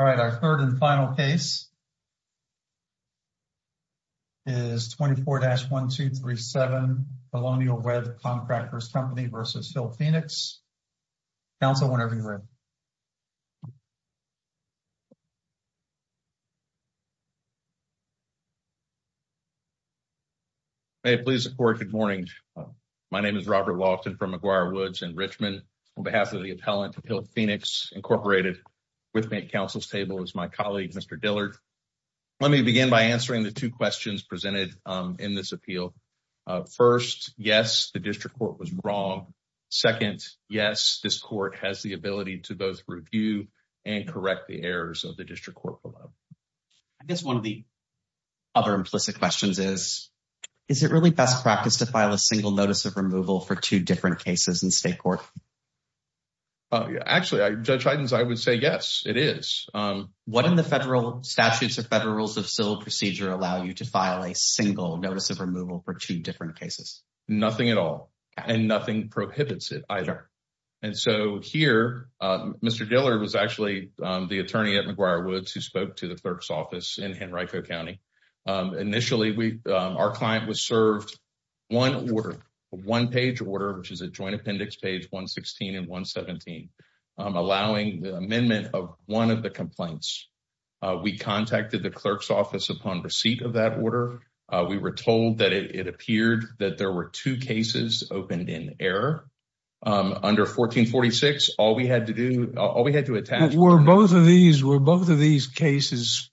All right, our third and final case is 24-1237 Colonial Webb Contractors Company v. Hill Phoenix. Council, whenever you're ready. May it please the court, good morning. My name is Robert Walton from McGuire Woods in Richmond. On behalf of the appellant, Hill Phoenix, Inc., with me at council's table is my colleague, Mr. Dillard. Let me begin by answering the two questions presented in this appeal. First, yes, the district court was wrong. Second, yes, this court has the ability to both review and correct the errors of the district court below. I guess one of the other implicit questions is, is it really best practice to file a single notice of removal for two different cases in court? Actually, Judge Hydens, I would say yes, it is. What in the federal statutes or federal rules of civil procedure allow you to file a single notice of removal for two different cases? Nothing at all, and nothing prohibits it either. And so here, Mr. Dillard was actually the attorney at McGuire Woods who spoke to the clerk's office in Henrico County. Initially, our client was served one order, a one-page order, which is a joint appendix page 116 and 117, allowing the amendment of one of the complaints. We contacted the clerk's office upon receipt of that order. We were told that it appeared that there were two cases opened in error. Under 1446, all we had to do, all we had to attach... Were both of these cases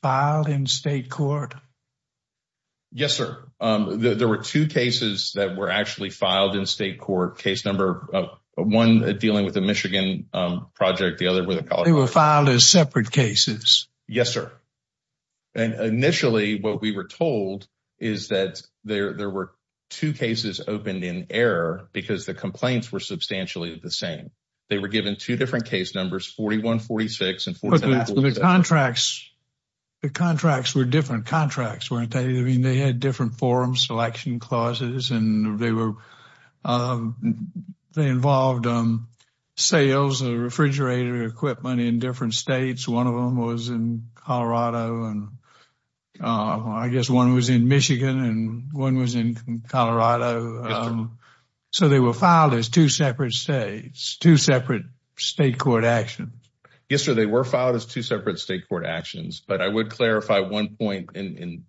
filed in state court? Yes, sir. There were two cases that were actually filed in state court, case number one, dealing with the Michigan project, the other with the Colorado... They were filed as separate cases? Yes, sir. And initially, what we were told is that there were two cases opened in error because the complaints were substantially the same. They were given two different case numbers, 4146 and 1447... Contracts, the contracts were different contracts, weren't they? I mean, they had different forum selection clauses and they involved sales of refrigerator equipment in different states. One of them was in Colorado and I guess one was in Michigan and one was in Colorado. So they were filed as two separate states, two separate state court actions. Yes, sir. They were filed as two separate state court actions, but I would clarify one point in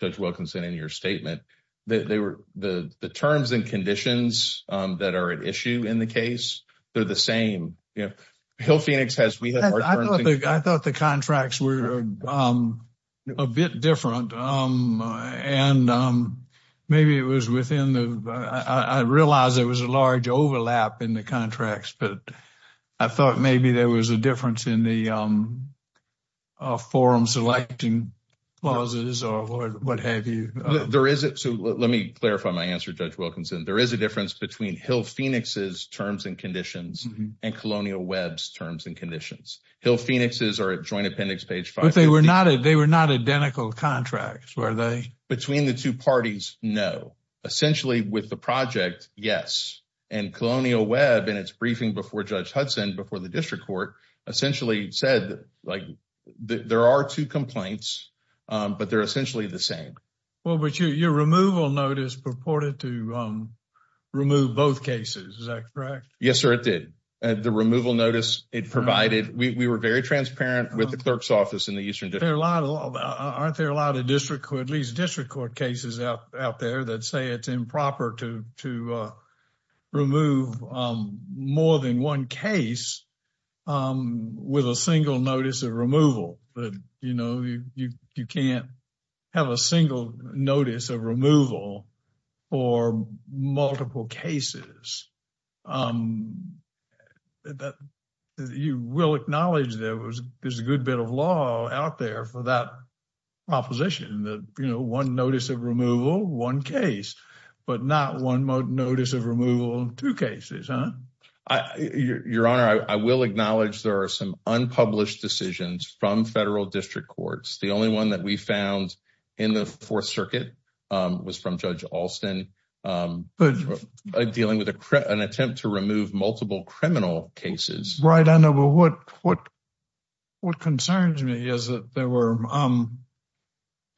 Judge Wilkinson, in your statement. The terms and conditions that are at issue in the case, they're the same. Hill Phoenix has... I thought the contracts were a bit different and maybe it was within the... I realized there was a large overlap in the contracts, but I thought maybe there was a difference in the forum selection clauses or what have you. Let me clarify my answer, Judge Wilkinson. There is a difference between Hill Phoenix's terms and conditions and Colonial Webb's terms and conditions. Hill Phoenix's are at joint appendix page 550. But they were not identical contracts, were they? Between the two parties, no. Essentially with the project, yes. And Colonial Webb in its briefing before Judge Hudson, before the district court, essentially said there are two complaints, but they're essentially the same. Well, but your removal notice purported to remove both cases, is that correct? Yes, sir, it did. The removal notice, it provided... We were very transparent with the clerk's office in the Eastern District. Aren't there a lot of district or at least district court cases out there that say it's improper to remove more than one case with a single notice of removal? You can't have a single notice of removal for multiple cases. You will acknowledge there's a good bit of law out there for that proposition that, you know, one notice of removal, one case, but not one notice of removal in two cases, huh? Your Honor, I will acknowledge there are some unpublished decisions from federal district courts. The only one that we found in the Fourth Circuit was from Judge Alston dealing with an attempt to remove multiple criminal cases. Right, I know, but what concerns me is that there were...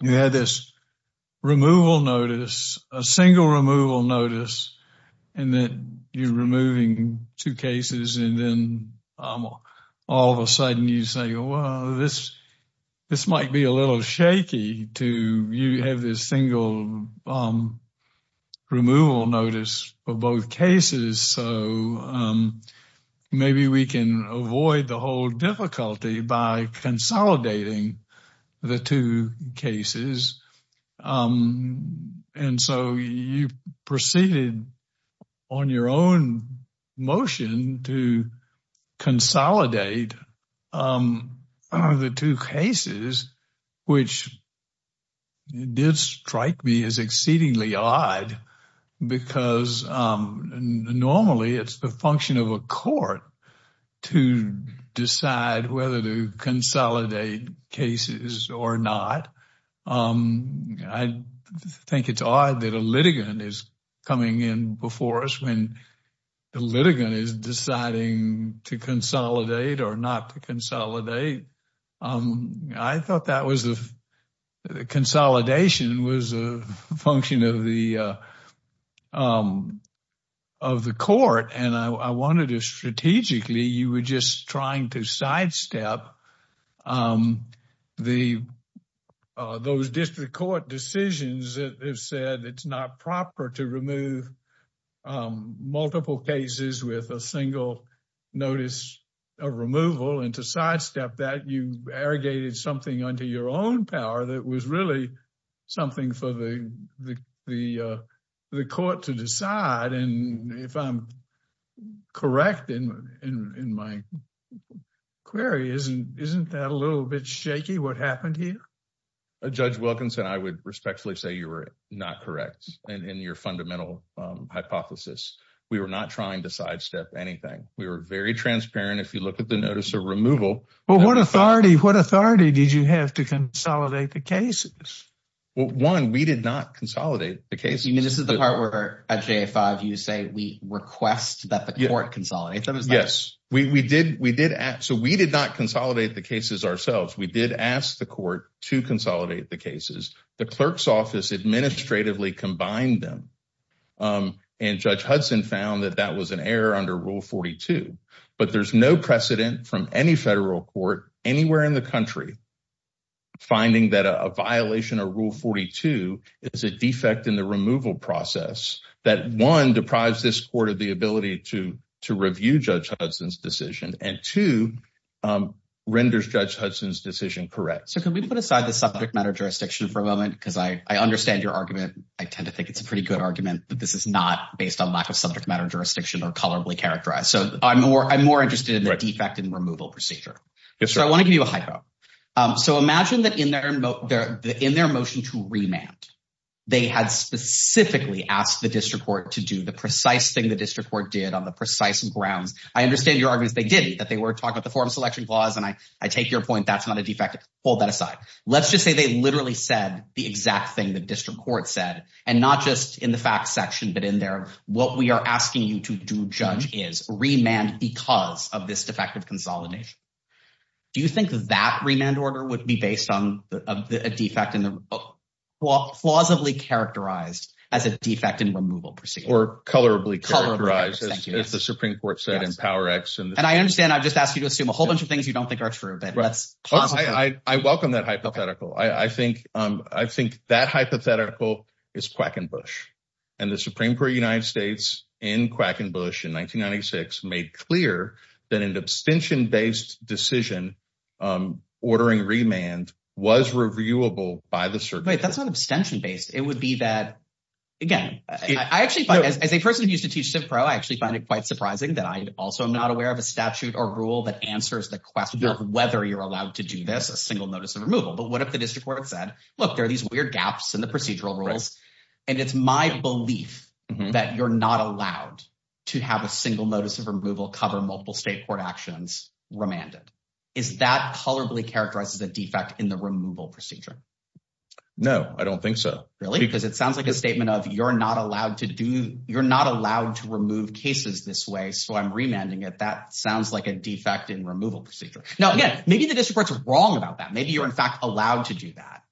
You had this removal notice, a single removal notice, and then you're removing two cases, and then all of a sudden you say, well, this might be a little shaky to... You have this single removal notice for both cases, so maybe we can avoid the whole difficulty by consolidating the two cases. And so you proceeded on your own motion to consolidate the two cases, which did strike me as exceedingly odd because normally it's the function of a court to decide whether to consolidate cases or not. I think it's odd that a litigant is coming in before us when the litigant is deciding to consolidate or not to consolidate. I thought that was the... Consolidation was a function of the court, and I wanted to strategically... You were just trying to sidestep those district court decisions that have said it's not proper to remove multiple cases with a single notice of removal and to sidestep that. You arrogated something under your own power that was really something for the court to decide. And if I'm correct in my query, isn't that a little bit shaky, what happened here? Judge Wilkinson, I would respectfully say you were not correct in your fundamental hypothesis. We were not trying to sidestep anything. We were very transparent. If you look at the notice of removal... But what authority did you have to consolidate the cases? Well, one, we did not consolidate the cases. This is the part where at J-5 you say we request that the court consolidate them. Yes. So we did not consolidate the cases ourselves. We did ask the to consolidate the cases. The clerk's office administratively combined them, and Judge Hudson found that that was an error under Rule 42. But there's no precedent from any federal court anywhere in the country finding that a violation of Rule 42 is a defect in the removal process that, one, deprives this court of the ability to review Judge Hudson's decision, and two, renders Judge Hudson's decision correct. So can we put aside the subject matter jurisdiction for a moment? Because I understand your argument. I tend to think it's a pretty good argument, but this is not based on lack of subject matter jurisdiction or colorably characterized. So I'm more interested in the defect in removal procedure. So I want to give you a hypo. So imagine that in their motion to remand, they had specifically asked the district court to do the precise thing the district court did on the precise grounds. I understand your that they were talking about the form selection clause, and I take your point that's not a defect. Hold that aside. Let's just say they literally said the exact thing the district court said, and not just in the facts section, but in there. What we are asking you to do, Judge, is remand because of this defective consolidation. Do you think that remand order would be based on a defect in the law, plausibly characterized as a defect in removal procedure? Colorably characterized, as the Supreme Court said in Power X. I understand. I've just asked you to assume a whole bunch of things you don't think are true. I welcome that hypothetical. I think that hypothetical is Quackenbush. The Supreme Court of the United States in Quackenbush in 1996 made clear that an abstention-based decision ordering remand was reviewable by the circuit. Wait, that's not abstention-based. It would be again. As a person who used to teach CivPro, I actually find it quite surprising that I also am not aware of a statute or rule that answers the question of whether you're allowed to do this, a single notice of removal. But what if the district court said, look, there are these weird gaps in the procedural rules, and it's my belief that you're not allowed to have a single notice of removal cover multiple state court actions remanded. Is that colorably characterized as a defect in the removal procedure? No, I don't think so. Really? Because it sounds like a statement of, you're not allowed to remove cases this way, so I'm remanding it. That sounds like a defect in removal procedure. Now, again, maybe the district court's wrong about that. Maybe you're in fact allowed to do that.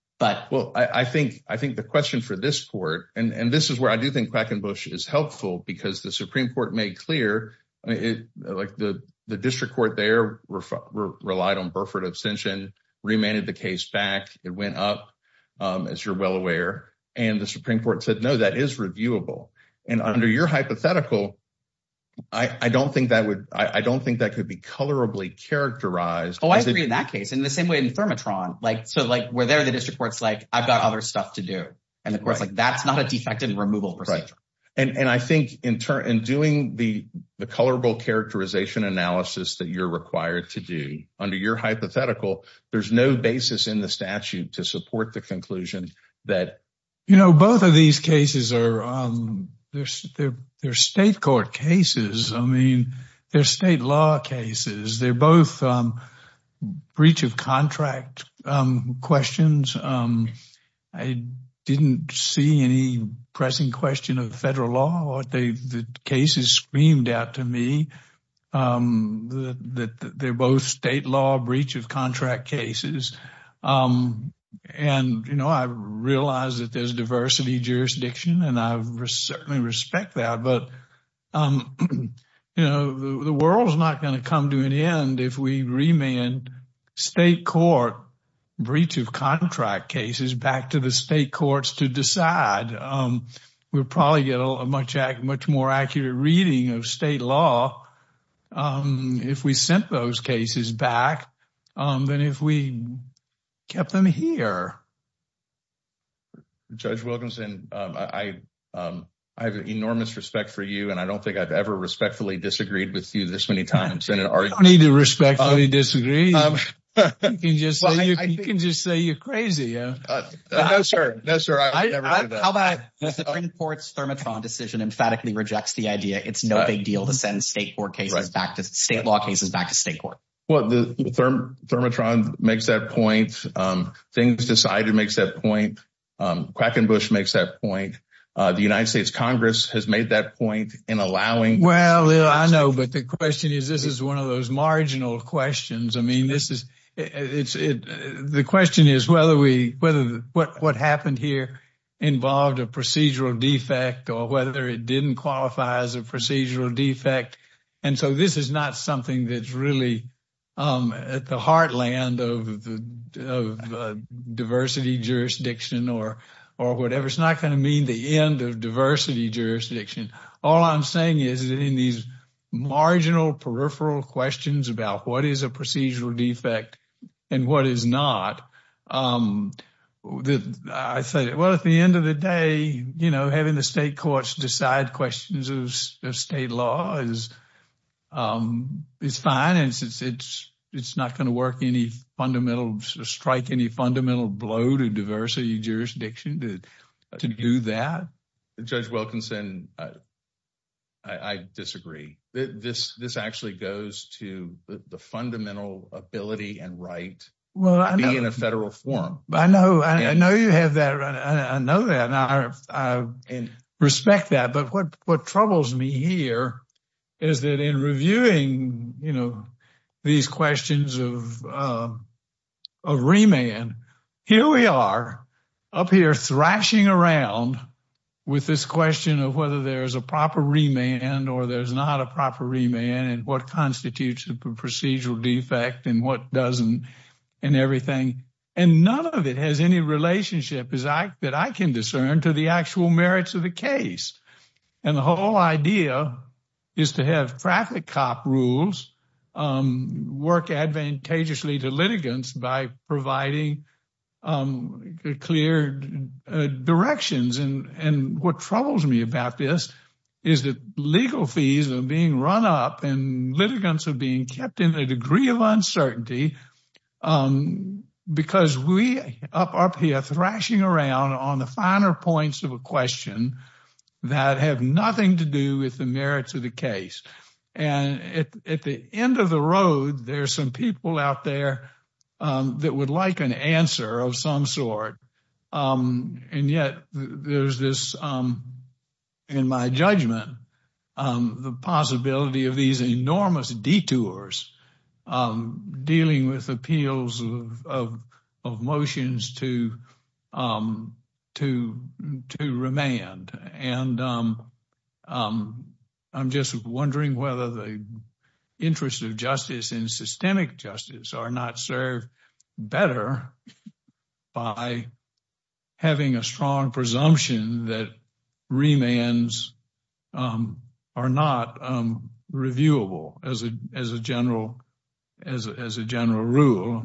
Well, I think the question for this court, and this is where I do think Quackenbush is helpful because the Supreme Court made clear, the district court there relied on abstention, remanded the case back. It went up, as you're well aware. And the Supreme Court said, no, that is reviewable. And under your hypothetical, I don't think that could be colorably characterized. Oh, I agree with that case. In the same way in Thermatron, where there the district court's like, I've got other stuff to do. And the court's like, that's not a defect in removal procedure. Right. And I think in doing the colorable characterization analysis that you're required to do, under your hypothetical, there's no basis in the statute to support the conclusion that... You know, both of these cases are state court cases. I mean, they're state law cases. They're both breach of contract questions. I didn't see any pressing question of federal law. The cases screamed out to me that they're both state law breach of contract cases. And, you know, I realize that there's diversity jurisdiction, and I certainly respect that. But, you know, the world's not going to come to an end if we remand state court breach of contract cases back to the state courts to decide. We'll probably get a much more accurate reading of state law if we sent those cases back than if we kept them here. Judge Wilkinson, I have enormous respect for you, and I don't think I've ever respectfully disagreed with you this many times. I don't need to respectfully disagree. You can just say you're crazy. No, sir. No, sir. I would never do that. How about if the Supreme Court's Thermotron decision emphatically rejects the idea it's no big deal to send state law cases back to state court? Well, Thermotron makes that point. Things Decided makes that point. Quackenbush makes that point. The United States Congress has made that point in allowing... Well, I know, but the question is, this is one of those marginal questions. I mean, the question is whether what happened here involved a procedural defect or whether it didn't qualify as a procedural defect. And so this is not something that's really at the heartland of diversity jurisdiction or whatever. It's not going to mean the end of jurisdiction. All I'm saying is in these marginal peripheral questions about what is a procedural defect and what is not, I say, well, at the end of the day, you know, having the state courts decide questions of state law is fine. And it's not going to strike any fundamental blow to diversity jurisdiction. Judge Wilkinson, I disagree. This actually goes to the fundamental ability and right to be in a federal forum. I know. I know you have that. I know that. I respect that. But what troubles me here is that in reviewing, you know, these questions of remand, here we are up here thrashing around with this question of whether there's a proper remand or there's not a proper remand and what constitutes a procedural defect and what doesn't and everything. And none of it has any relationship that I can discern to the actual merits of the case. And the whole idea is to have traffic cop rules work advantageously to litigants by providing clear directions. And what troubles me about this is that legal fees are being run up and litigants are being kept in a degree of uncertainty because we up up here thrashing around on the finer points of a question that have nothing to do with the merits of the case. And at the end of the road, there's some people out there that would like an answer of some sort. And yet there's this, in my judgment, the possibility of these enormous detours dealing with appeals of motions to remand. And I'm just wondering whether the interest of justice and systemic justice are not served better by having a strong presumption that remands are not reviewable as a general rule.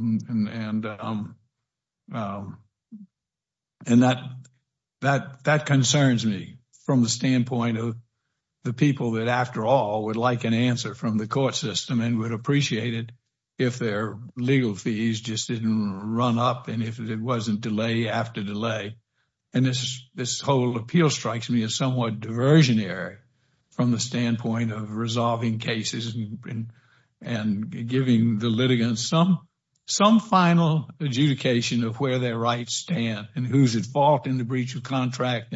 And that concerns me from the standpoint of the people that, after all, would like an answer from the court system and would appreciate it if their legal fees just didn't run up and if it wasn't delay after delay. And this whole appeal strikes me as somewhat diversionary from the standpoint of resolving cases and giving the litigants some final adjudication of where their rights stand and who's at fault in the breach of contract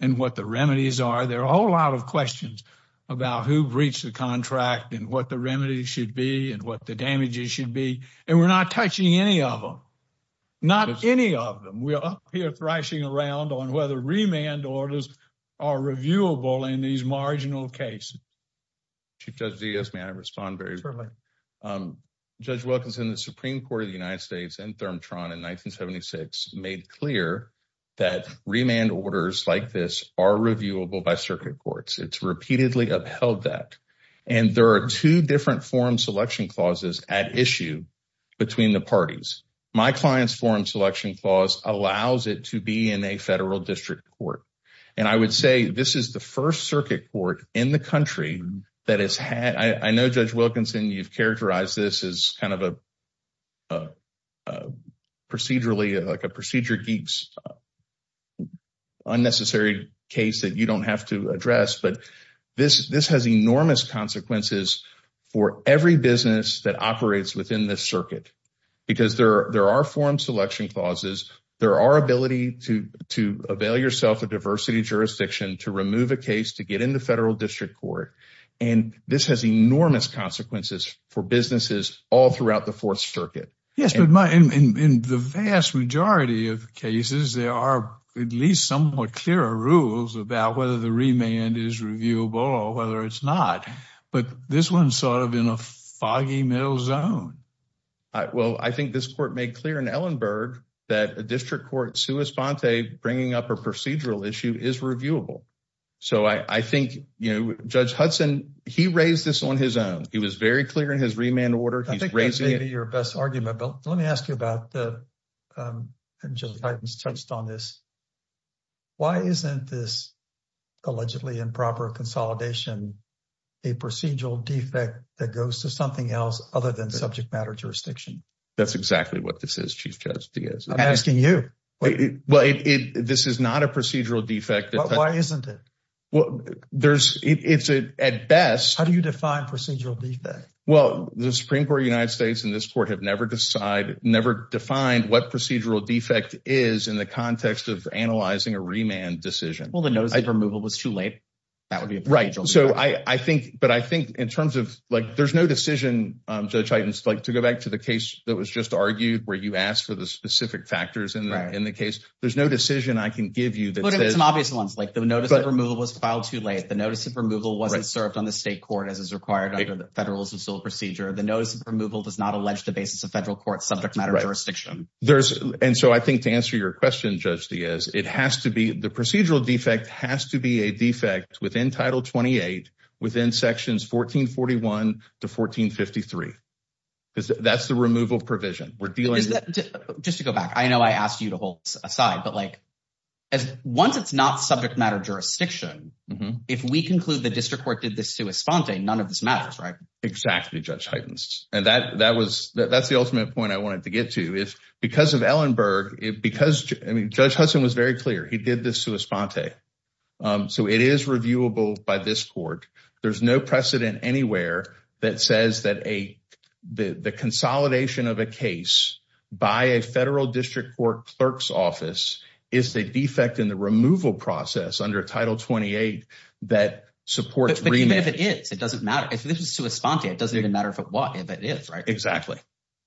and what the remedies are. There are a whole lot of questions about who breached the contract and what the remedies should be and what the damages should be. And we're not touching any of them. Not any of them. We're up here thrashing around on whether remand orders are reviewable in these marginal cases. Chief Judge Diaz, may I respond very briefly? Judge Wilkinson, the Supreme Court of the United States and ThermTron in 1976 made clear that remand orders like this are reviewable by circuit courts. It's repeatedly upheld that. And there are two different forum selection clauses at issue between the parties. My client's forum selection clause allows it to be in a federal district court. And I would say this is the first circuit court in the country that has had, I know Judge Wilkinson, you've characterized this as kind of a procedurally, like a procedure geek's unnecessary case that you don't have to address. But this has enormous consequences for every business that operates within this circuit. Because there are forum selection clauses. There are ability to avail yourself of diversity jurisdiction to remove a case to get into federal district court. And this has enormous consequences for businesses all throughout the fourth circuit. Yes, but in the vast majority of cases, there are at least somewhat clearer rules about whether the remand is reviewable or whether it's not. But this one's sort of in a foggy middle zone. Well, I think this court made clear in Ellenberg that a district court sui sponte bringing up a procedural issue is reviewable. So I think, you know, Judge Hudson, he raised this on his own. He was very clear in his remand order. I think that's maybe your best argument. But let me ask you about the, and Judge Heitens touched on this. Why isn't this allegedly improper consolidation, a procedural defect that goes to something else other than subject matter jurisdiction? That's exactly what this is, Chief Judge Diaz. I'm asking you. Well, this is not a procedural defect. Why isn't it? Well, there's, it's at best. How do you define procedural defect? Well, the Supreme Court of analyzing a remand decision. Well, the notice of removal was too late. That would be right. So I think, but I think in terms of, like, there's no decision, Judge Heitens, like to go back to the case that was just argued where you asked for the specific factors in the case. There's no decision I can give you that there's some obvious ones, like the notice of removal was filed too late. The notice of removal wasn't served on the state court as is required under the Federalist of Civil Procedure. The notice of removal does not allege the basis of federal court subject matter jurisdiction. There's. And so I think to answer your question, Judge Diaz, it has to be, the procedural defect has to be a defect within Title 28, within sections 1441 to 1453. That's the removal provision we're dealing with. Just to go back. I know I asked you to hold aside, but like, as once it's not subject matter jurisdiction, if we conclude the district court did this to Esponte, none of this matters, right? Exactly, Judge Heitens. And that, that was, that's the ultimate point I wanted to get to. Because of Ellenberg, because, I mean, Judge Hudson was very clear. He did this to Esponte. So it is reviewable by this court. There's no precedent anywhere that says that a, the consolidation of a case by a federal district court clerk's office is the defect in the removal process under Title 28 that supports remand. But even if it is, it doesn't matter. If this is to Esponte, it doesn't even matter if it is, right? Exactly.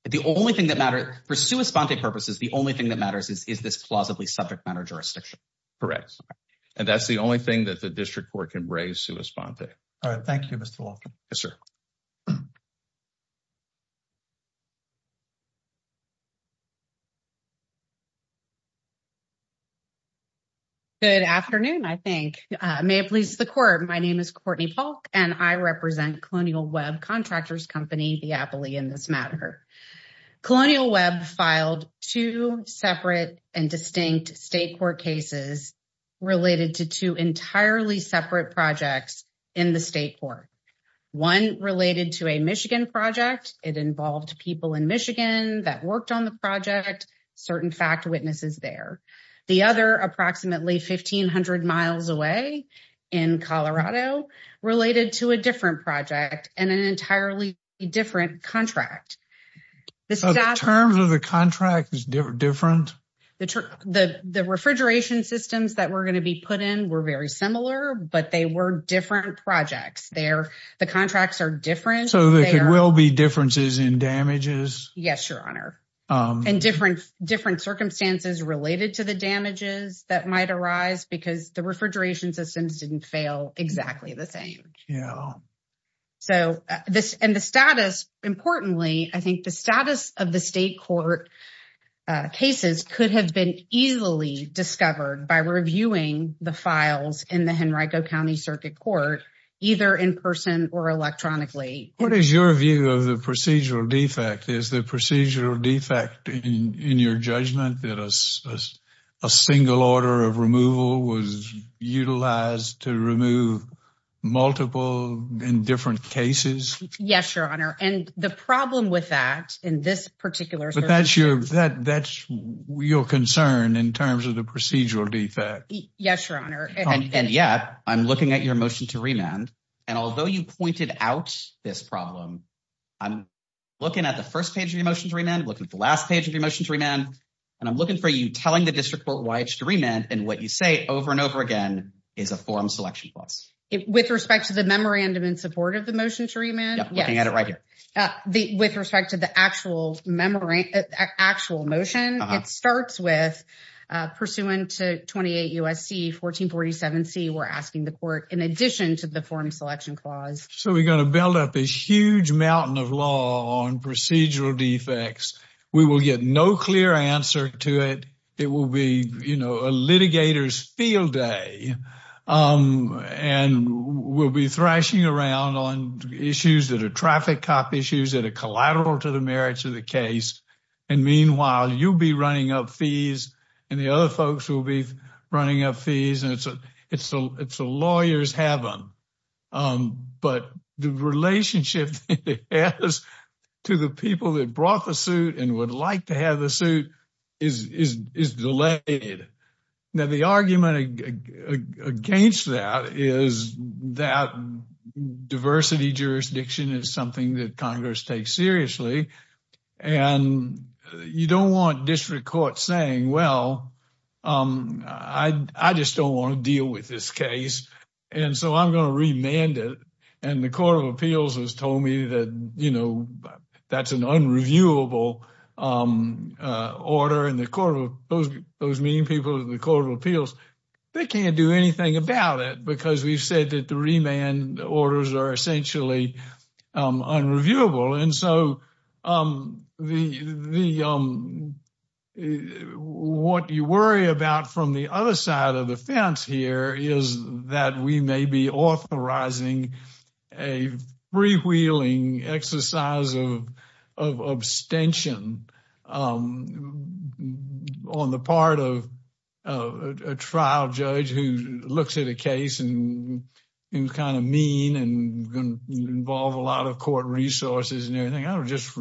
The only thing that matters for Esponte purposes, the only thing that matters is, is this plausibly subject matter jurisdiction. Correct. And that's the only thing that the district court can raise to Esponte. All right. Thank you, Mr. Walton. Yes, sir. Good afternoon, I think. May it please the court. My name is Courtney Polk and I represent Colonial Contractors Company, the Appley in this matter. Colonial Web filed two separate and distinct state court cases related to two entirely separate projects in the state court. One related to a Michigan project. It involved people in Michigan that worked on the project, certain fact witnesses there. The other, approximately 1,500 miles away in Colorado, related to a different project and an entirely different contract. The terms of the contract is different? The refrigeration systems that were going to be put in were very similar, but they were different projects. The contracts are different. So there will be differences in damages? Yes, your honor. And different circumstances related to the damages that might arise because the refrigeration systems didn't fail exactly the same. Yeah. So this and the status, importantly, I think the status of the state court cases could have been easily discovered by reviewing the files in the Henrico County Circuit Court, either in person or electronically. What is your view of the procedural defect? Is the a single order of removal was utilized to remove multiple in different cases? Yes, your honor. And the problem with that in this particular... But that's your concern in terms of the procedural defect. Yes, your honor. And yet I'm looking at your motion to remand. And although you pointed out this problem, I'm looking at the first page of your motion to remand, looking at the last page of your motion to remand. And I'm looking for you telling the district court why it should remand. And what you say over and over again is a forum selection clause. With respect to the memorandum in support of the motion to remand? Yes. Looking at it right here. With respect to the actual memorandum, actual motion, it starts with pursuant to 28 U.S.C. 1447C, we're asking the court in addition to the forum selection clause. So we're going to build up a huge mountain of law on procedural defects. We will get no clear answer to it. It will be, you know, a litigator's field day. And we'll be thrashing around on issues that are traffic cop issues that are collateral to the merits of the case. And meanwhile, you'll be running up fees and the other folks will be running up fees. And it's a lawyer's heaven. But the relationship it has to the people that brought the suit and would like to have the suit is delayed. Now, the argument against that is that diversity jurisdiction is something that Congress takes seriously. And you don't want the court saying, well, I just don't want to deal with this case. And so I'm going to remand it. And the Court of Appeals has told me that, you know, that's an unreviewable order. And those meeting people at the Court of Appeals, they can't do anything about it because we've said that the what you worry about from the other side of the fence here is that we may be authorizing a freewheeling exercise of abstention on the part of a trial judge who looks at a case and who's kind of mean and going to involve a lot of court resources and everything. I don't just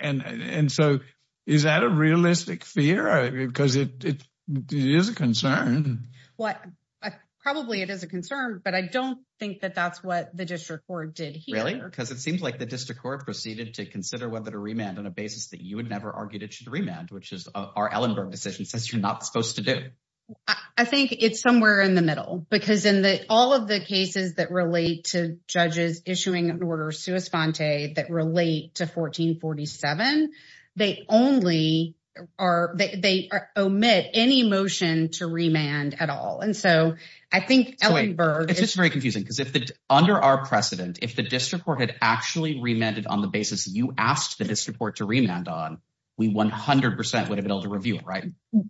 and so is that a realistic fear? Because it is a concern. Well, probably it is a concern, but I don't think that that's what the district court did here. Really? Because it seems like the district court proceeded to consider whether to remand on a basis that you had never argued it should remand, which is our Ellenberg decision says you're not supposed to do. I think it's somewhere in the middle, because in all of the cases that relate to judges issuing an order sui sponte that relate to 1447, they only are they omit any motion to remand at all. And so I think Ellenberg. It's just very confusing because if the under our precedent, if the district court had actually remanded on the basis you asked the district court to remand on, we 100 percent would have been able to review it, right?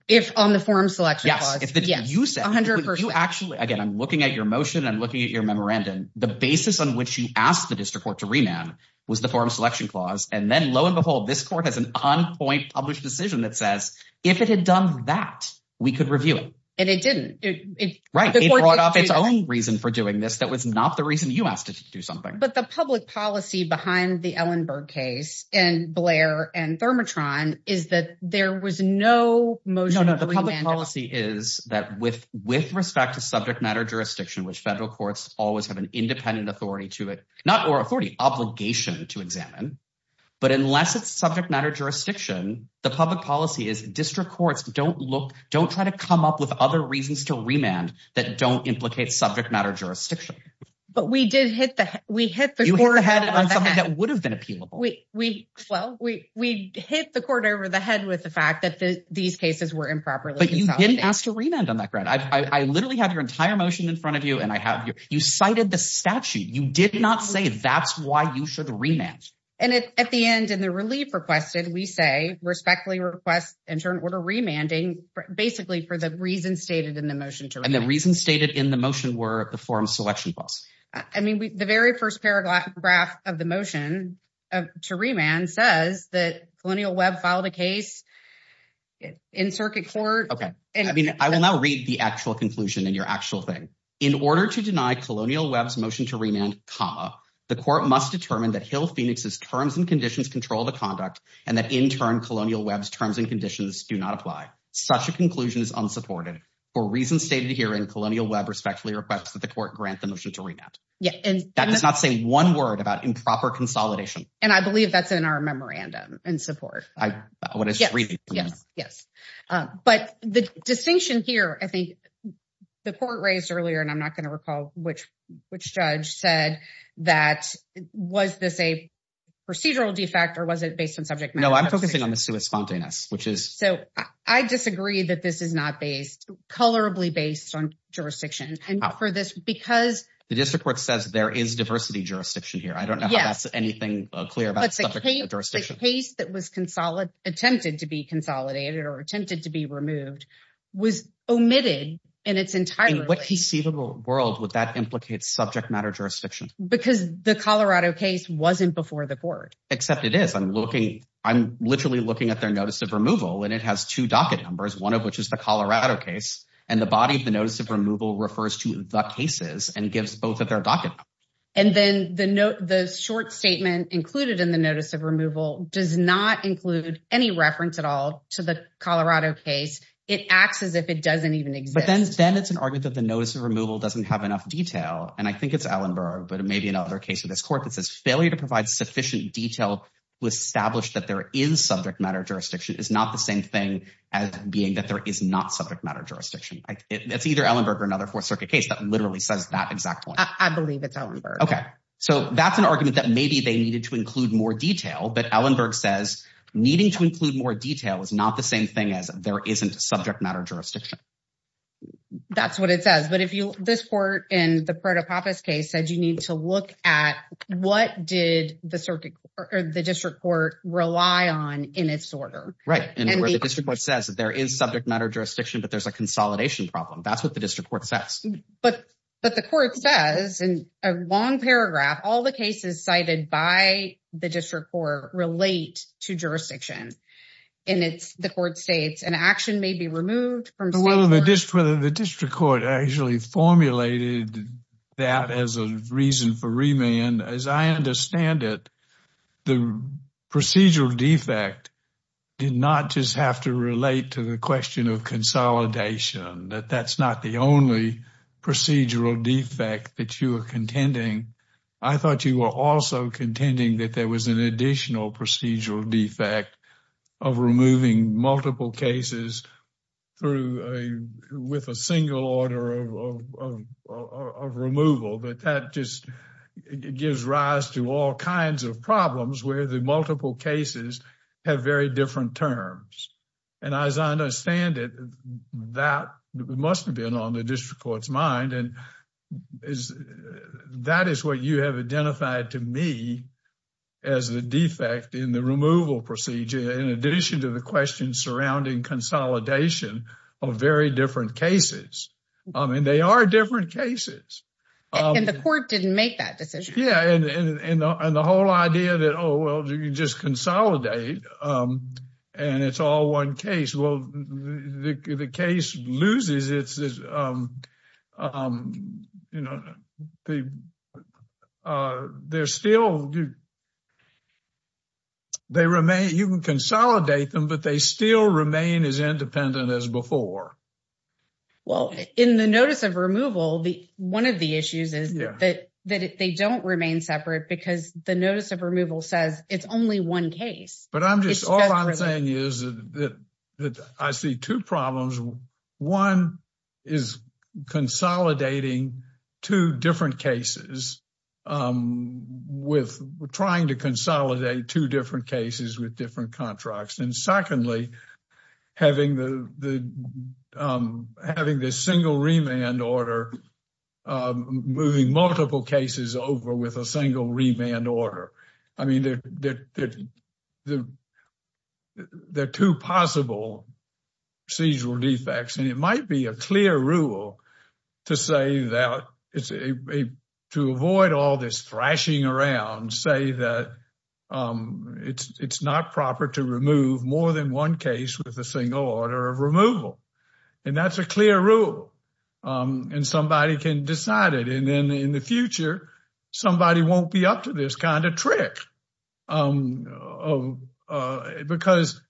If on the forum selection. Yes. If you said 100 percent, you actually again, I'm looking at your motion. I'm looking at your memorandum. The basis on which you asked the district court to remand was the forum selection clause. And then lo and behold, this court has an on point published decision that says if it had done that, we could review it and it didn't. Right. It brought up its own reason for doing this. That was not the reason you asked to do something. But the public policy behind the Ellenberg case and Blair and Thermotron is that there was no motion. No, no. The public policy is that with with respect to subject matter jurisdiction, which federal courts always have an independent authority to it, not or authority obligation to examine. But unless it's subject matter jurisdiction, the public policy is district courts don't look don't try to come up with other reasons to remand that don't implicate subject matter jurisdiction. But we did hit the we hit the court ahead on something that would have been appealable. We well, we we hit the court over the head with the fact that these cases were improper. But you didn't ask to remand on that ground. I literally have your entire motion in front of you and I have you cited the statute. You did not say that's why you should rematch. And at the end and the relief requested, we say respectfully request in turn order remanding basically for the reasons stated in the motion. And the reasons stated in the motion were the forum selection clause. I mean, the very first paragraph of the motion to remand says that Colonial Webb filed a case in circuit court. Okay. I mean, I will now read the actual conclusion in your actual thing. In order to deny Colonial Webb's motion to remand comma, the court must determine that Hill Phoenix's terms and conditions control the conduct and that in turn Colonial Webb's terms and conditions do not apply. Such a conclusion is unsupported. For reasons stated here in Colonial Webb respectfully requests that the court grant the motion to remand. Yeah. And that does not say one word about improper consolidation. And I believe that's in our memorandum and support. Yes. But the distinction here, I think the court raised earlier and I'm not going to recall which judge said that was this a procedural defect or was it based on subject matter? No, I'm focusing on the sui spontaneus, which is. So I disagree that this is not based colorably based on jurisdiction and for this because. The district court says there is diversity here. I don't know how that's anything clear about the case that was consolidated attempted to be consolidated or attempted to be removed was omitted and it's entirely what conceivable world would that implicate subject matter jurisdiction because the Colorado case wasn't before the court except it is. I'm looking. I'm literally looking at their notice of removal and it has two docket numbers, one of which is the Colorado case and the body of the notice of And then the short statement included in the notice of removal does not include any reference at all to the Colorado case. It acts as if it doesn't even exist. But then it's an argument that the notice of removal doesn't have enough detail. And I think it's Ellenberg, but it may be another case of this court that says failure to provide sufficient detail to establish that there is subject matter jurisdiction is not the same thing as being that there is not subject matter jurisdiction. It's either Ellenberg or another Fourth Circuit case that literally says that exact point. I believe it's Ellenberg. Okay, so that's an argument that maybe they needed to include more detail, but Ellenberg says needing to include more detail is not the same thing as there isn't subject matter jurisdiction. That's what it says, but if you this court in the Pareto-Pappas case said you need to look at what did the circuit or the district court rely on in its order. Right, and where the district court says there is subject matter jurisdiction, but there's a consolidation problem. That's what the district court says. But the court says in a long paragraph all the cases cited by the district court relate to jurisdiction. And it's the court states an action may be removed from. Well, the district court actually formulated that as a reason for remand. As I understand it, the procedural defect did not just have to relate to the question of consolidation. That's not the only procedural defect that you are contending. I thought you were also contending that there was an additional procedural defect of removing multiple cases with a single order of removal. That just gives rise to all kinds of problems where the multiple cases have very different terms. And as I understand it, that must have been on the district court's mind. And that is what you have identified to me as the defect in the removal procedure, in addition to the question surrounding consolidation of very different cases. I mean, they are different cases. And the court didn't make that decision. Yeah, and the whole idea that, oh, well, you just consolidate and it's all one case. Well, the case loses its... You can consolidate them, but they still remain as independent as before. Well, in the notice of removal, one of the issues is that they don't remain separate because the notice of removal says it's only one case. But I'm just... All I'm saying is that I see two problems. One is consolidating two different cases with... Trying to consolidate two different cases with different contracts. And secondly, having the single remand order, moving multiple cases over with a single remand order. I mean, there are two possible procedural defects. And it might be a clear rule to say that... To avoid all this thrashing around, say that it's not proper to remove more than one case with a single order of removal. And that's a clear rule. And somebody can decide it. And then in the future, somebody won't be up to this kind of trick. Because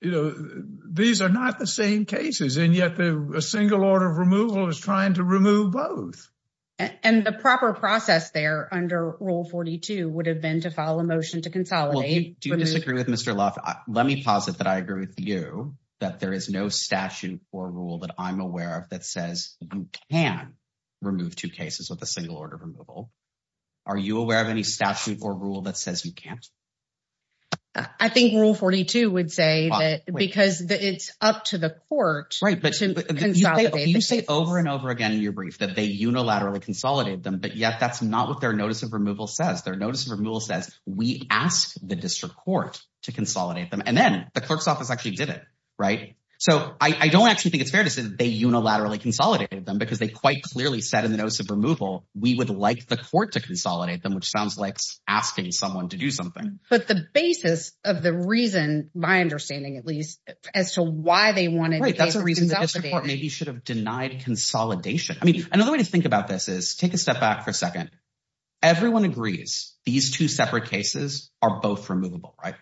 these are not the same cases, and yet a single order of removal is trying to remove both. And the proper process there under Rule 42 would have been to file a motion to consolidate... Well, do you disagree with Mr. Loft? Let me posit that I agree with you, that there is no statute or rule that I'm aware of that says you can remove two cases with a single order of removal. Are you aware of any statute or rule that says you can't? I think Rule 42 would say that because it's up to the court... Right. You say over and over again in your brief that they unilaterally consolidated them, but yet that's not what their notice of removal says. Their notice of removal says, we ask the district court to consolidate them. And then the clerk's office actually did it, right? So I don't actually think it's fair to say that they unilaterally consolidated them, because they quite clearly said in the notice of removal, we would like the court to consolidate them, which sounds like asking someone to do something. But the basis of the reason, my understanding at least, as to why they wanted to consolidate... Right. That's a reason the district court maybe should have denied consolidation. I mean, another way to think about this is, take a step back for a second. Everyone agrees these two separate cases are both removable, right?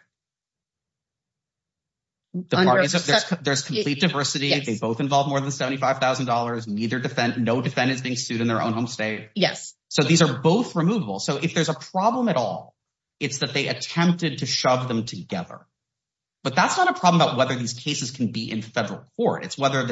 There's complete diversity. They both involve more than $75,000. No defendant's being sued in their own home state. Yes. So these are both removable. So if there's a problem at all, it's that they attempted to shove them together. But that's not a problem about whether these cases can be in federal court. It's whether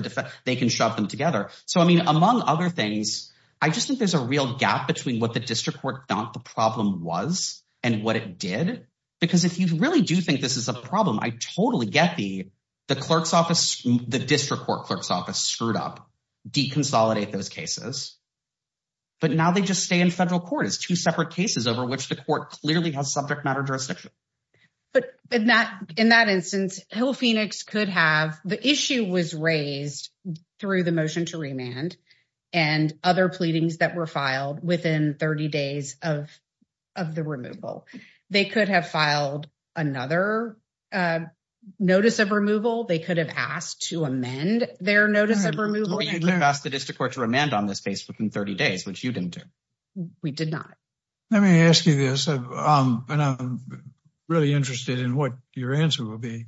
they can shove them together. So I mean, among other things, I just think there's a real gap between what the district court thought the problem was and what it did. Because if you really do think this is a problem, I totally get the district court clerk's office screwed up, deconsolidate those cases. But now they just stay in federal court. It's two separate cases over which the court clearly has subject matter jurisdiction. But in that instance, Hill-Phoenix could have... The issue was raised through the motion to remand and other pleadings that were filed within 30 days of the removal. They could have filed another notice of removal. They could have asked to amend their notice of removal. You could have asked the district court to remand on this case within 30 days, which you didn't do. We did not. Let me ask you this, and I'm really interested in what your answer will be.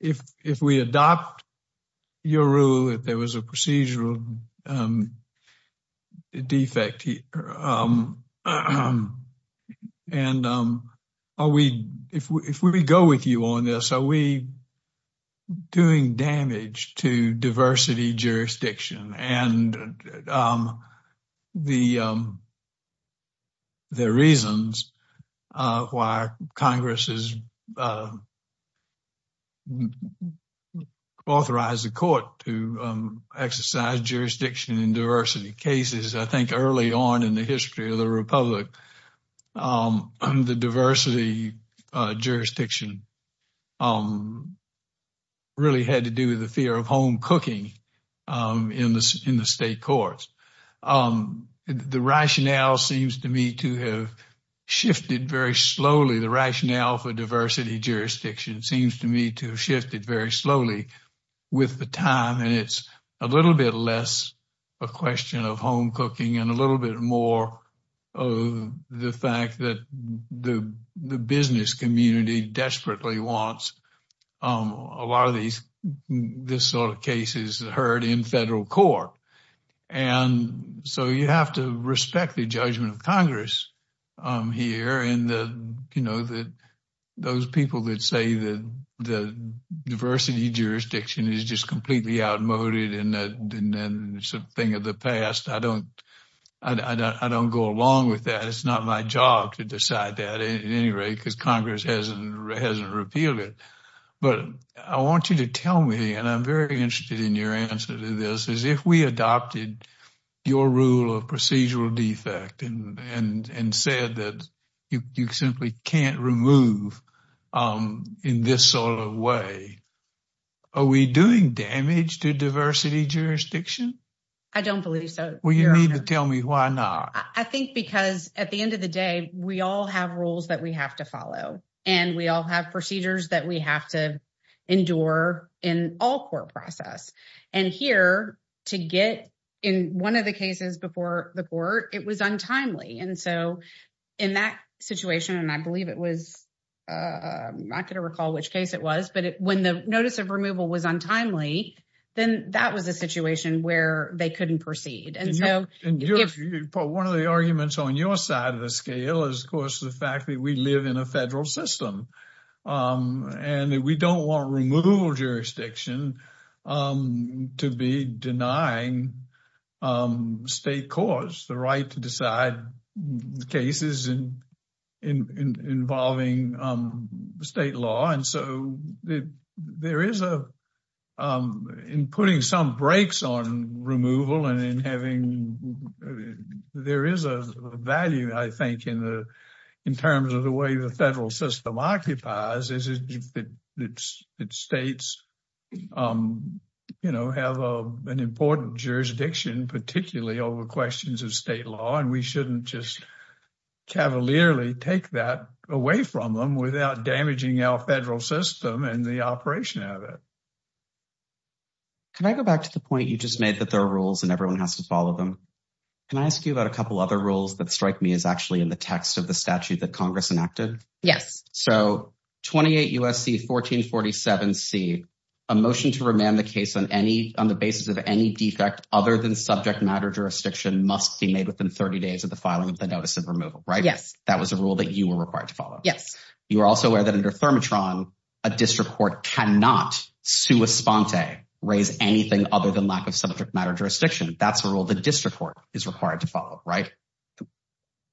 If we adopt your rule that there was a procedural defect here, and if we go with you on this, are we doing damage to diversity jurisdiction and the reasons why Congress has authorized the court to exercise jurisdiction in diversity cases? I think early on in the history of the Republic, the diversity jurisdiction really had to do with the fear of home cooking in the state courts. The rationale seems to me to have shifted very slowly. The rationale for diversity jurisdiction seems to me to have shifted very slowly with the time. It's a little bit less a question of home cooking and a little bit more of the fact that the business community desperately wants a lot of these cases heard in federal court. You have to respect the judgment of Congress here. Those people that say that the diversity jurisdiction is just completely outmoded and it's a thing of the past, I don't go along with that. It's not my job to decide that at any rate because Congress hasn't repealed it. I want you to tell me, and I'm very interested in your answer to this, is if we adopted your rule of procedural defect and said that you simply can't remove in this sort of way, are we doing damage to diversity jurisdiction? I don't believe so. Well, you need to tell me why not. I think because at the end of the day, we all have rules that we have to follow and we all have procedures that we have to endure in all court process. And here, to get in one of the cases before the court, it was untimely. And so in that situation, and I believe it was, I'm not going to recall which case it was, but when the notice of removal was untimely, then that was a situation where they couldn't proceed. One of the arguments on your side of the scale is, of course, the fact that we live in a federal system and we don't want removal jurisdiction to be denying state courts the right to decide cases involving state law. So, in putting some brakes on removal, there is a value, I think, in terms of the way the federal system occupies it. States have an important jurisdiction, particularly over questions of state law, and we shouldn't just cavalierly take that away from them without damaging our federal system and the operation of it. Can I go back to the point you just made that there are rules and everyone has to follow them? Can I ask you about a couple other rules that strike me as actually in the text of the statute that Congress enacted? Yes. So, 28 U.S.C. 1447C, a motion to remand the case on the basis of any defect other than subject matter jurisdiction must be made within 30 days of the filing of the notice of removal, right? Yes. That was a rule that you were required to follow. Yes. You are also aware that under Thermotron, a district court cannot, sua sponte, raise anything other than lack of subject matter jurisdiction. That's a rule the district court is required to follow, right?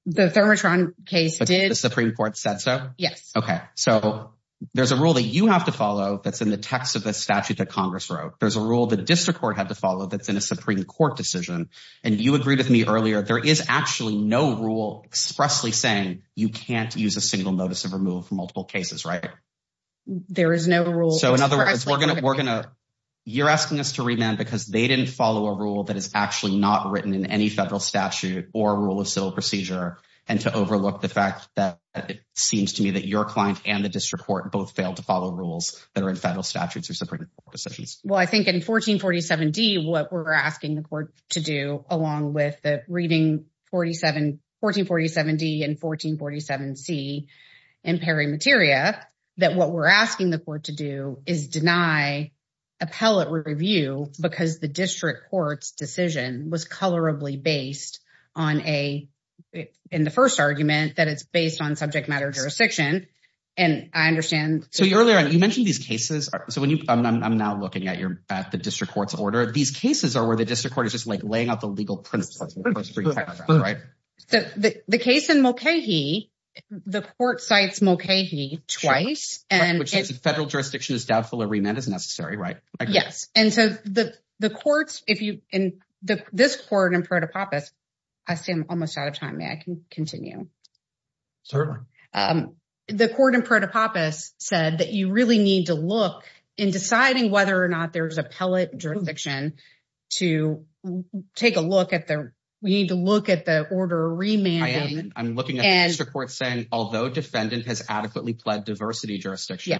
The Thermotron case did. The Supreme Court said so? Yes. Okay. So, there's a rule that you have to follow that's in the text of the statute that Congress wrote. There's a rule the district court had to follow that's in a Supreme Court decision, and you agreed with me earlier, there is actually no rule expressly saying you can't use a single notice of removal for multiple cases, right? There is no rule. So, in other words, you're asking us to remand because they didn't follow a rule that is actually not written in any federal statute or rule of civil procedure, and to overlook the fact that it seems to me that your client and the district court both failed to follow rules that are in federal statutes or Supreme Court decisions. Well, I think in 1447D, what we're asking the court to do, along with reading 1447D and 1447C in peri materia, that what we're asking the court to do is deny appellate review because the district court's decision was colorably based on a, in the first argument, that it's based on subject matter jurisdiction, and I understand. So, earlier, you mentioned these cases. So, I'm now looking at the district court's order. These cases are where the district court is just, like, laying out the legal principles, right? The case in Mulcahy, the court cites Mulcahy twice. Federal jurisdiction is doubtful a remand is necessary, right? Yes. And so, the courts, if you, in this court in protopopis, I see I'm almost out of time. May I continue? Certainly. The court in protopopis said that you really need to look in deciding whether or not there's appellate jurisdiction to take a look at the, we need to look at the order of remanding. I am. I'm looking at the district court saying, although defendant has adequately pled diversity jurisdiction,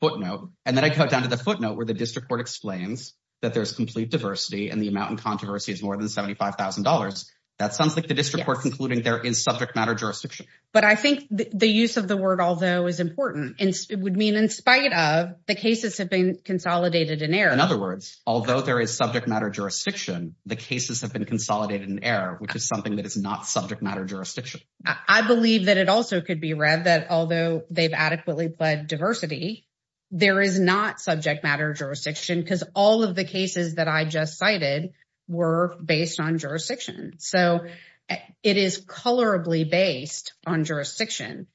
footnote, and then I cut down to the footnote where the district court explains that there's complete diversity and the amount in controversy is more than $75,000. That sounds like the district court concluding there is subject matter jurisdiction. But I think the use of the word although is important. It would mean in spite of the cases have been consolidated in error. In other words, although there is subject matter jurisdiction, the cases have been consolidated in error, which is something that is not subject matter jurisdiction. I believe that it also could be read that although they've adequately pled diversity, there is not subject matter jurisdiction because all of the cases that I just cited were based on jurisdiction. So, it is colorably based on jurisdiction.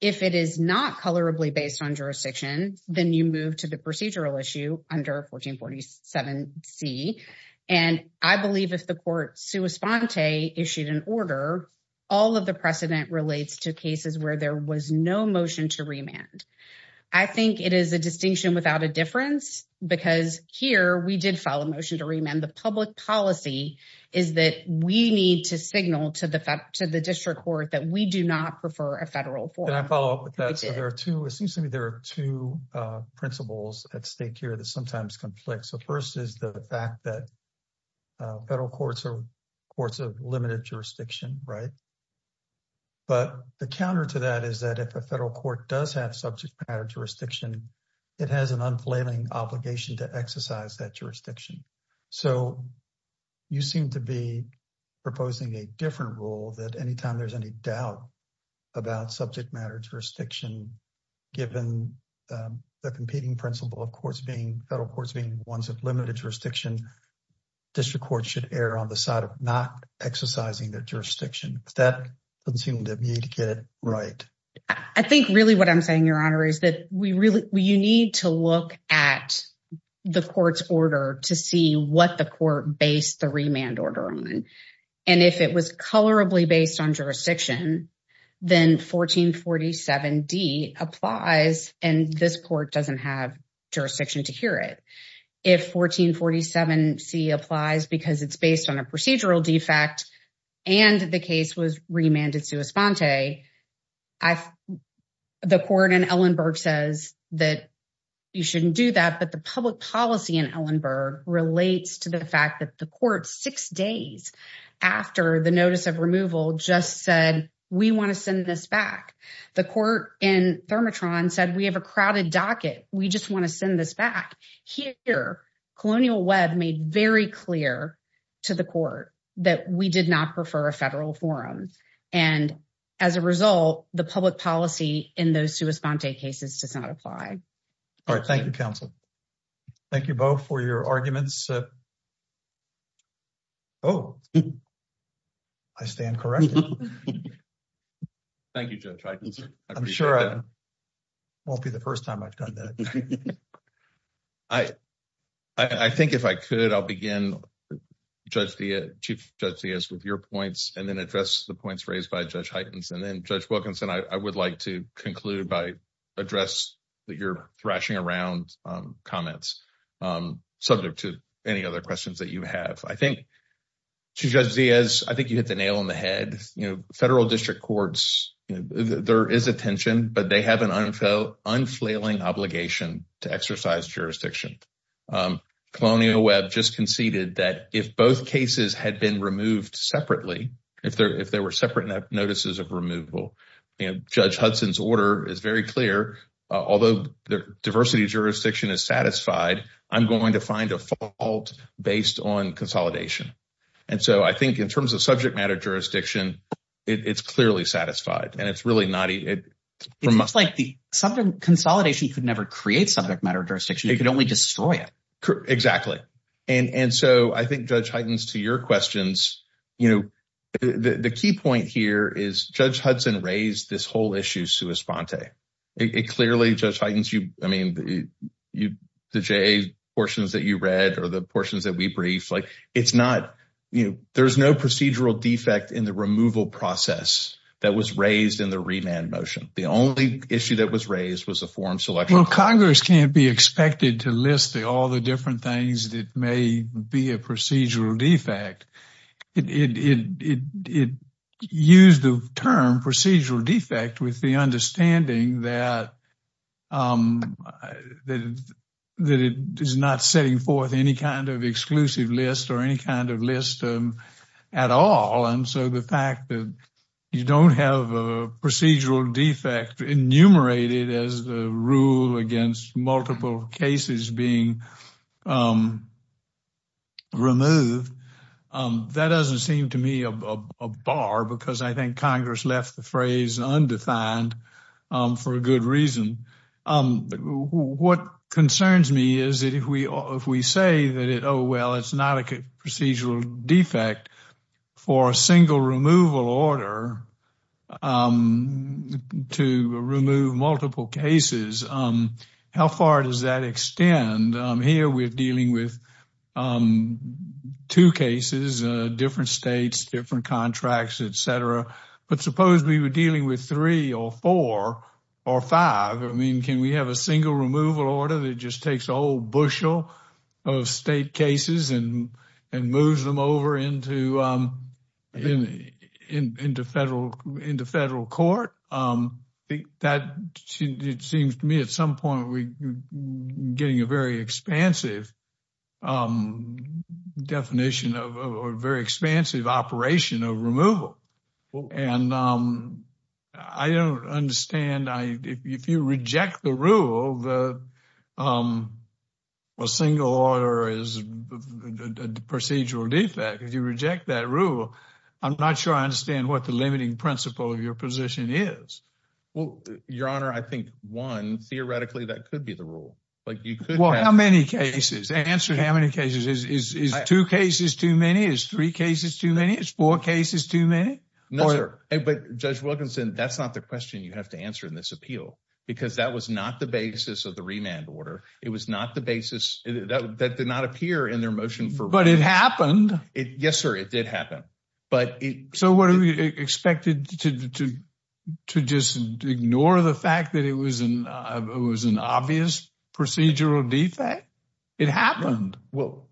If it is not colorably based on jurisdiction, then you move to the procedural issue under 1447C. And I believe if the court sua sponte issued an order, all of the precedent relates to cases where there was no motion to remand. I think it is a distinction without a difference because here we did file a motion to remand. The public policy is that we need to signal to the district court that we do not prefer a federal form. And I follow up with that. It seems to me there are two principles at stake here that sometimes conflict. So, first is the fact that federal courts are courts of limited jurisdiction, right? But the counter to that is that if a federal court does have subject matter jurisdiction, it has an unfailing obligation to exercise that jurisdiction. So, you seem to be that any time there is any doubt about subject matter jurisdiction, given the competing principle of courts being, federal courts being ones of limited jurisdiction, district courts should err on the side of not exercising their jurisdiction. That doesn't seem to me to get it right. I think really what I'm saying, Your Honor, is that you need to look at the court's order to what the court based the remand order on. And if it was colorably based on jurisdiction, then 1447D applies and this court doesn't have jurisdiction to hear it. If 1447C applies because it's based on a procedural defect and the case was remanded sua sponte, the court in Ellenberg says that you shouldn't do that. But the public policy in Ellenberg relates to the fact that the court six days after the notice of removal just said, we want to send this back. The court in Thermatron said, we have a crowded docket. We just want to send this back. Here, Colonial Webb made very clear to the court that we did not prefer a federal forum. And as a result, the public policy in those sua sponte cases does not apply. All right. Thank you, counsel. Thank you both for your arguments. Oh, I stand corrected. Thank you, Judge Heitens. I'm sure it won't be the first time I've done that. I think if I could, I'll begin, Chief Judge Diaz, with your points and then address the points raised by Judge Heitens. And then, Judge Wilkinson, I would like to conclude by address that you're thrashing around comments subject to any other questions that you have. I think, Chief Judge Diaz, I think you hit the nail on the head. Federal district courts, there is attention, but they have an unfailing obligation to exercise jurisdiction. Colonial Webb just conceded that if both cases had been removed separately, if there were separate notices of removal. Judge Hudson's order is very clear. Although the diversity jurisdiction is satisfied, I'm going to find a fault based on consolidation. And so, I think in terms of subject matter jurisdiction, it's clearly satisfied. And it's really not... It's like the consolidation could never create subject matter jurisdiction. It could only destroy it. Exactly. And so, I think, Judge Heitens, to your questions, the key point here is Judge Hudson raised this whole issue sua sponte. It clearly, Judge Heitens, the JA portions that you read or the portions that we briefed, it's not... There's no procedural defect in the removal process that was raised in the remand motion. The only issue that was raised was a form selection. Well, Congress can't be expected to list all the different things that may be a procedural defect. It used the term procedural defect with the understanding that it is not setting forth any kind of exclusive list or any kind of list at all. And so, the fact that you don't have a procedural defect enumerated as the rule against multiple cases being removed, that doesn't seem to me a bar because I think Congress left the phrase undefined for a good reason. What concerns me is that if we say that, oh, well, it's not a procedural defect for a single removal order to remove multiple cases, how far does that extend? Here, we're dealing with two cases, different states, different contracts, etc. But suppose we were dealing with three or four or five. I mean, can we have a single removal order that just takes a whole bushel of state cases and moves them over into federal court? It seems to me at some point we're getting a very expansive definition of a very expansive operation of removal. And I don't understand. If you reject the rule that a single order is a procedural defect, if you reject that rule, I'm not sure I understand what the limiting principle of your position is. Well, Your Honor, I think, one, theoretically, that could be the rule. Like, you could have many cases. Answer how many cases. Is two cases too many? Is three cases too many? Is four cases too many? No, sir. But Judge Wilkinson, that's not the question you have to answer in this appeal, because that was not the basis of the remand order. It was not the basis that did not appear in their motion. But it happened. Yes, sir, it did happen. So what are we expected to just ignore the fact that it was an obvious procedural defect? It happened. Well,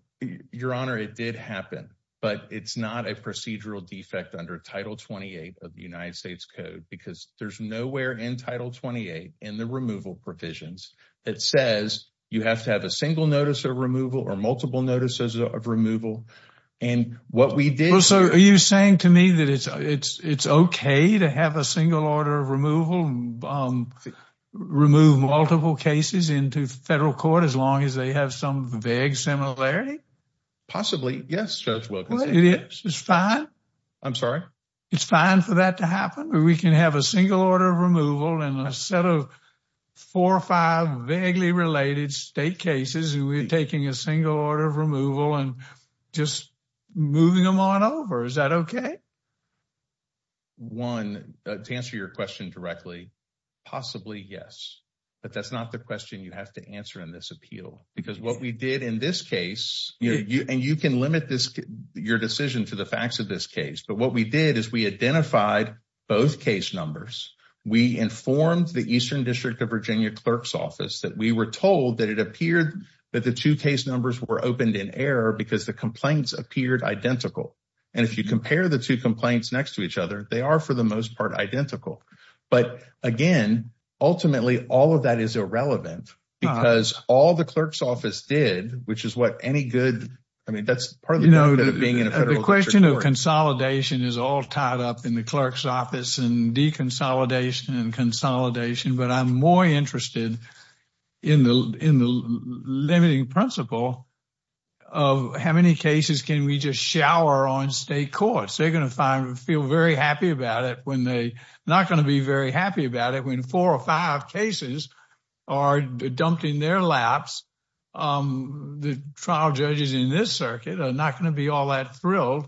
Your Honor, it did happen. But it's not a procedural defect under Title 28 of the United States Code, because there's nowhere in Title 28 in the removal provisions that says you have to have a single notice of removal or multiple notices of removal. And what we did... So are you saying to me that it's okay to have a single order of removal, um, remove multiple cases into federal court as long as they have some vague similarity? Possibly, yes, Judge Wilkinson. It is? It's fine? I'm sorry? It's fine for that to happen? We can have a single order of removal and a set of four or five vaguely related state cases, and we're taking a single order of removal and just moving them on over? Is that okay? One, to answer your question directly, possibly yes. But that's not the question you have to answer in this appeal. Because what we did in this case, and you can limit your decision to the facts of this case, but what we did is we identified both case numbers. We informed the Eastern District of Virginia Clerk's Office that we were told that it appeared that the two case numbers were opened in error because the complaints appeared identical. And if you compare the two complaints next to each other, they are, for the most part, identical. But again, ultimately, all of that is irrelevant because all the Clerk's Office did, which is what any good, I mean, that's part of the benefit of being in a federal district court. The question of consolidation is all tied up in the Clerk's Office and deconsolidation and consolidation, but I'm more interested in the limiting principle of how many cases can we just shower on state courts. They're going to feel very happy about it when they're not going to be very happy about it when four or five cases are dumped in their laps. The trial judges in this circuit are not going to be all that thrilled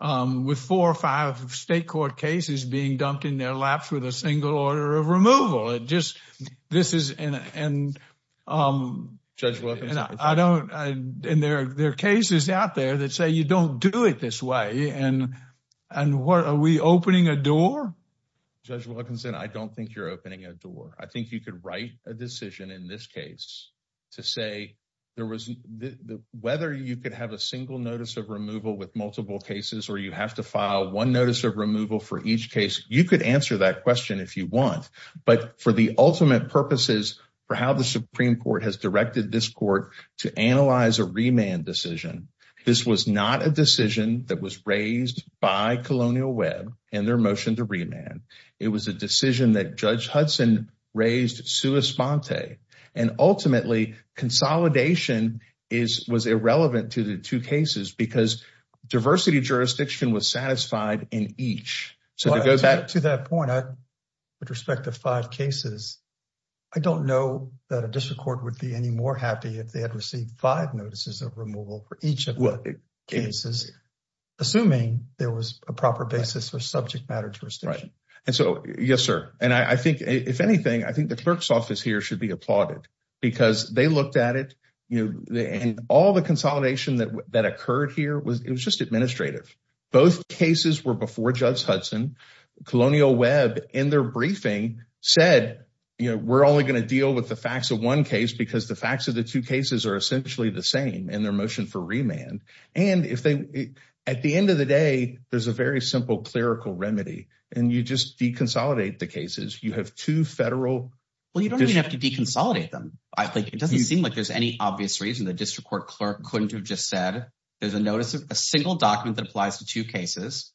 with four or five state court cases being dumped in their laps with a single order of removal. And Judge Wilkinson, I don't, and there are cases out there that say you don't do it this way. And what, are we opening a door? Judge Wilkinson, I don't think you're opening a door. I think you could write a decision in this case to say whether you could have a single notice of removal with multiple cases or you have to file one notice of removal for each case. You could answer that question if you want. But for the ultimate purposes for how the Supreme Court has directed this court to analyze a remand decision, this was not a decision that was raised by Colonial Webb in their motion to remand. It was a decision that Judge Hudson raised sua sponte. And ultimately, consolidation was irrelevant to the two cases because diversity jurisdiction was satisfied in each. To that point, with respect to five cases, I don't know that a district court would be any more happy if they had received five notices of removal for each of the cases, assuming there was a proper basis for subject matter jurisdiction. And so, yes, sir. And I think, if anything, I think the clerk's office here should be applauded because they looked at it. And all the consolidation that occurred here, it was just administrative. Both cases were before Judge Hudson. Colonial Webb, in their briefing, said, you know, we're only going to deal with the facts of one case because the facts of the two cases are essentially the same in their motion for remand. And at the end of the day, there's a very simple clerical remedy. And you just deconsolidate the cases. You have two federal... Well, you don't even have to deconsolidate them. I think it doesn't seem like there's any obvious reason the district court clerk couldn't have just said, there's a notice of a single document that applies to two cases.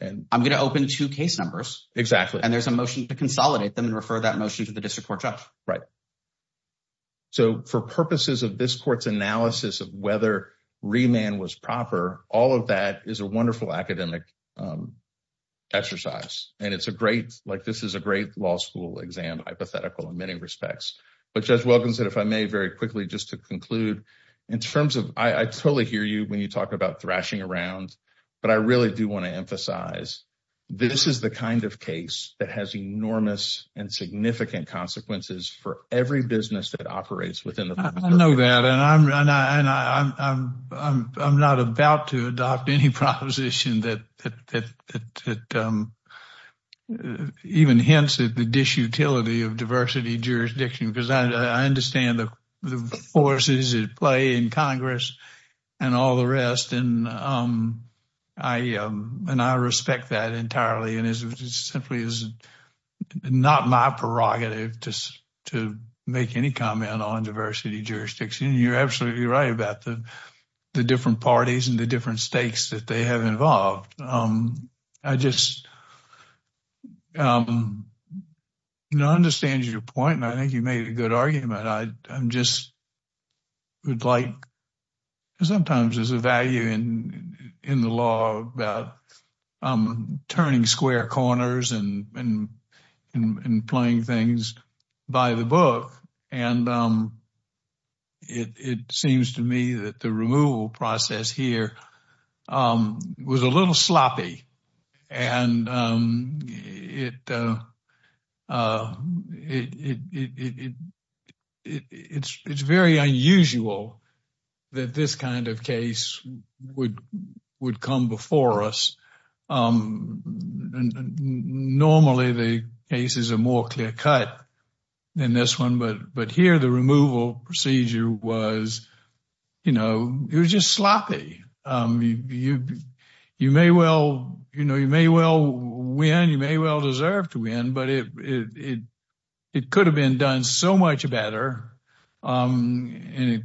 And I'm going to open two case numbers. Exactly. And there's a motion to consolidate them and refer that motion to the district court judge. Right. So, for purposes of this court's analysis of whether remand was proper, all of that is a wonderful academic exercise. And it's a great, like, this is a great law school exam, hypothetical in many respects. But Judge Wilkinson, if I may, very quickly, just to conclude in terms of, I totally hear you when you talk about thrashing around, but I really do want to emphasize this is the kind of case that has enormous and significant consequences for every business that operates within the... I know that. And I'm not about to adopt any proposition that that even hints at the disutility of diversity jurisdiction, because I understand the forces at play in Congress and all the rest. And I respect that entirely. And it simply is not my prerogative to make any comment on diversity jurisdiction. You're absolutely right about the different parties and the different stakes that they have involved. I just, you know, I understand your point. And I think you made a good argument. I just would like, sometimes there's a value in the law about turning square corners and playing things by the book. And it seems to me that the removal process here was a little sloppy. And it's very unusual that this kind of case would come before us. Normally, the cases are more clear cut than this one. But here, the removal procedure was, you know, it was just sloppy. You may well, you know, you may well win, you may well deserve to win, but it could have been done so much better. And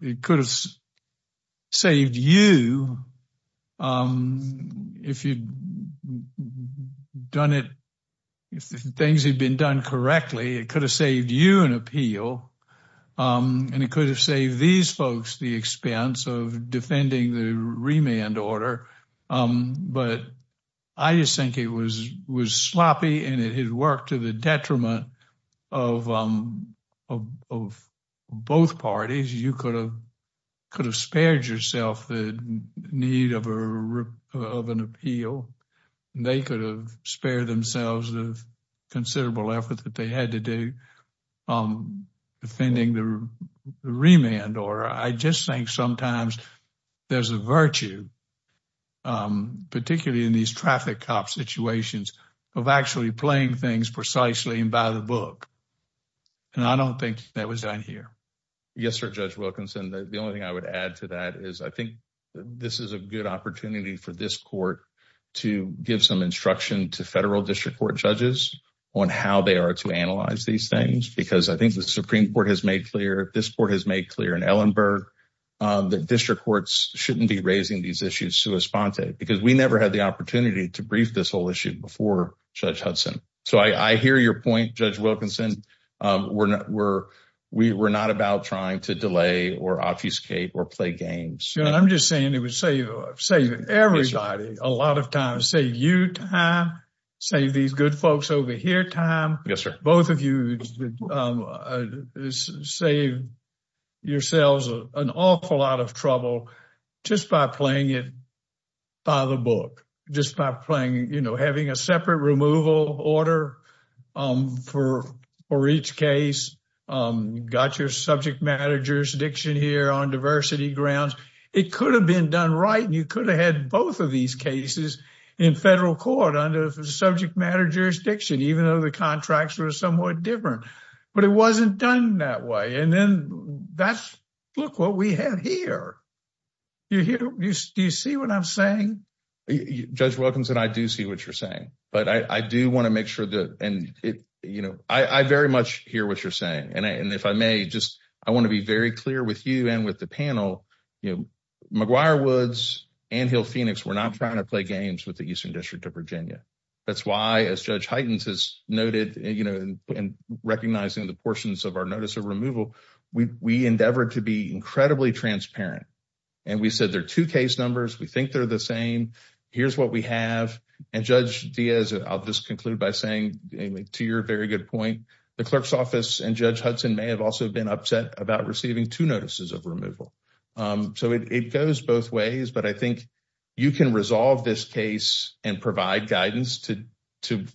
it could have saved you. If you'd done it, if things had been done correctly, it could have saved you an appeal. And it could have saved these folks the expense of defending the remand order. But I just think it was sloppy and it had worked to the detriment of both parties. You could have spared yourself the need of an appeal. They could have spared themselves the considerable effort that they had to do defending the remand order. I just think sometimes there's a virtue, particularly in these traffic cop situations, of actually playing things precisely and by the book. And I don't think that was done here. Yes, sir. Judge Wilkinson, the only thing I would add to that is I think this is a good opportunity for this court to give some instruction to federal district court judges on how they are to analyze these things. Because I think the Supreme Court has made clear, this court has made clear in Ellenberg, that district courts shouldn't be raising these issues sua sponte. Because we never had the opportunity to brief this whole issue before Judge Hudson. So I hear your point, Judge Wilkinson. We're not about trying to delay or obfuscate or play games. I'm just saying it would save everybody a lot of time, save you time, save these good folks over here time. Yes, sir. Both of you save yourselves an awful lot of trouble just by playing it by the book. Just by playing, you know, having a separate removal order for each case, got your subject matter jurisdiction here on diversity grounds. It could have been done right. And you could have had both of these cases in federal court under the subject matter jurisdiction, even though the contracts were somewhat different. But it wasn't done that way. And then that's, look what we have here. Do you see what I'm saying? Judge Wilkinson, I do see what you're saying. But I do want to make sure that and it, you know, I very much hear what you're saying. And if I may just, I want to be very clear with you and with the panel, you know, McGuire Woods and Hill Phoenix, we're not trying to play games with the Eastern District of Virginia. That's why as Judge Hytens has noted, you know, and recognizing the portions of our notice of removal, we endeavor to be incredibly transparent. And we said there case numbers, we think they're the same. Here's what we have. And Judge Diaz, I'll just conclude by saying to your very good point, the clerk's office and Judge Hudson may have also been upset about receiving two notices of removal. So it goes both ways. But I think you can resolve this case and provide guidance to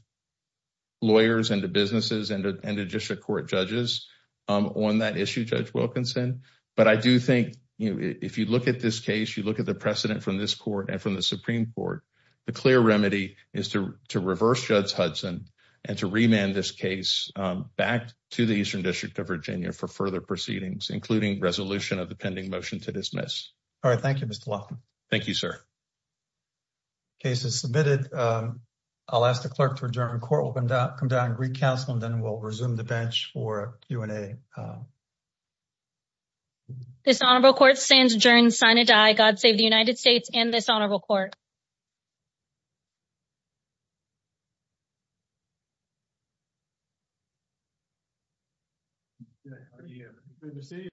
lawyers and to businesses and to district court judges on that issue, Judge Wilkinson. But I do think, you know, if you look at this case, you look at the precedent from this court and from the Supreme Court, the clear remedy is to reverse Judge Hudson and to remand this case back to the Eastern District of Virginia for further proceedings, including resolution of the pending motion to dismiss. All right. Thank you, Mr. Laughlin. Thank you, sir. Case is submitted. I'll ask the clerk to adjourn. Court will come down recast and then we'll resume the bench for Q&A. This honorable court stands adjourned, sign a die. God save the United States and this honorable court.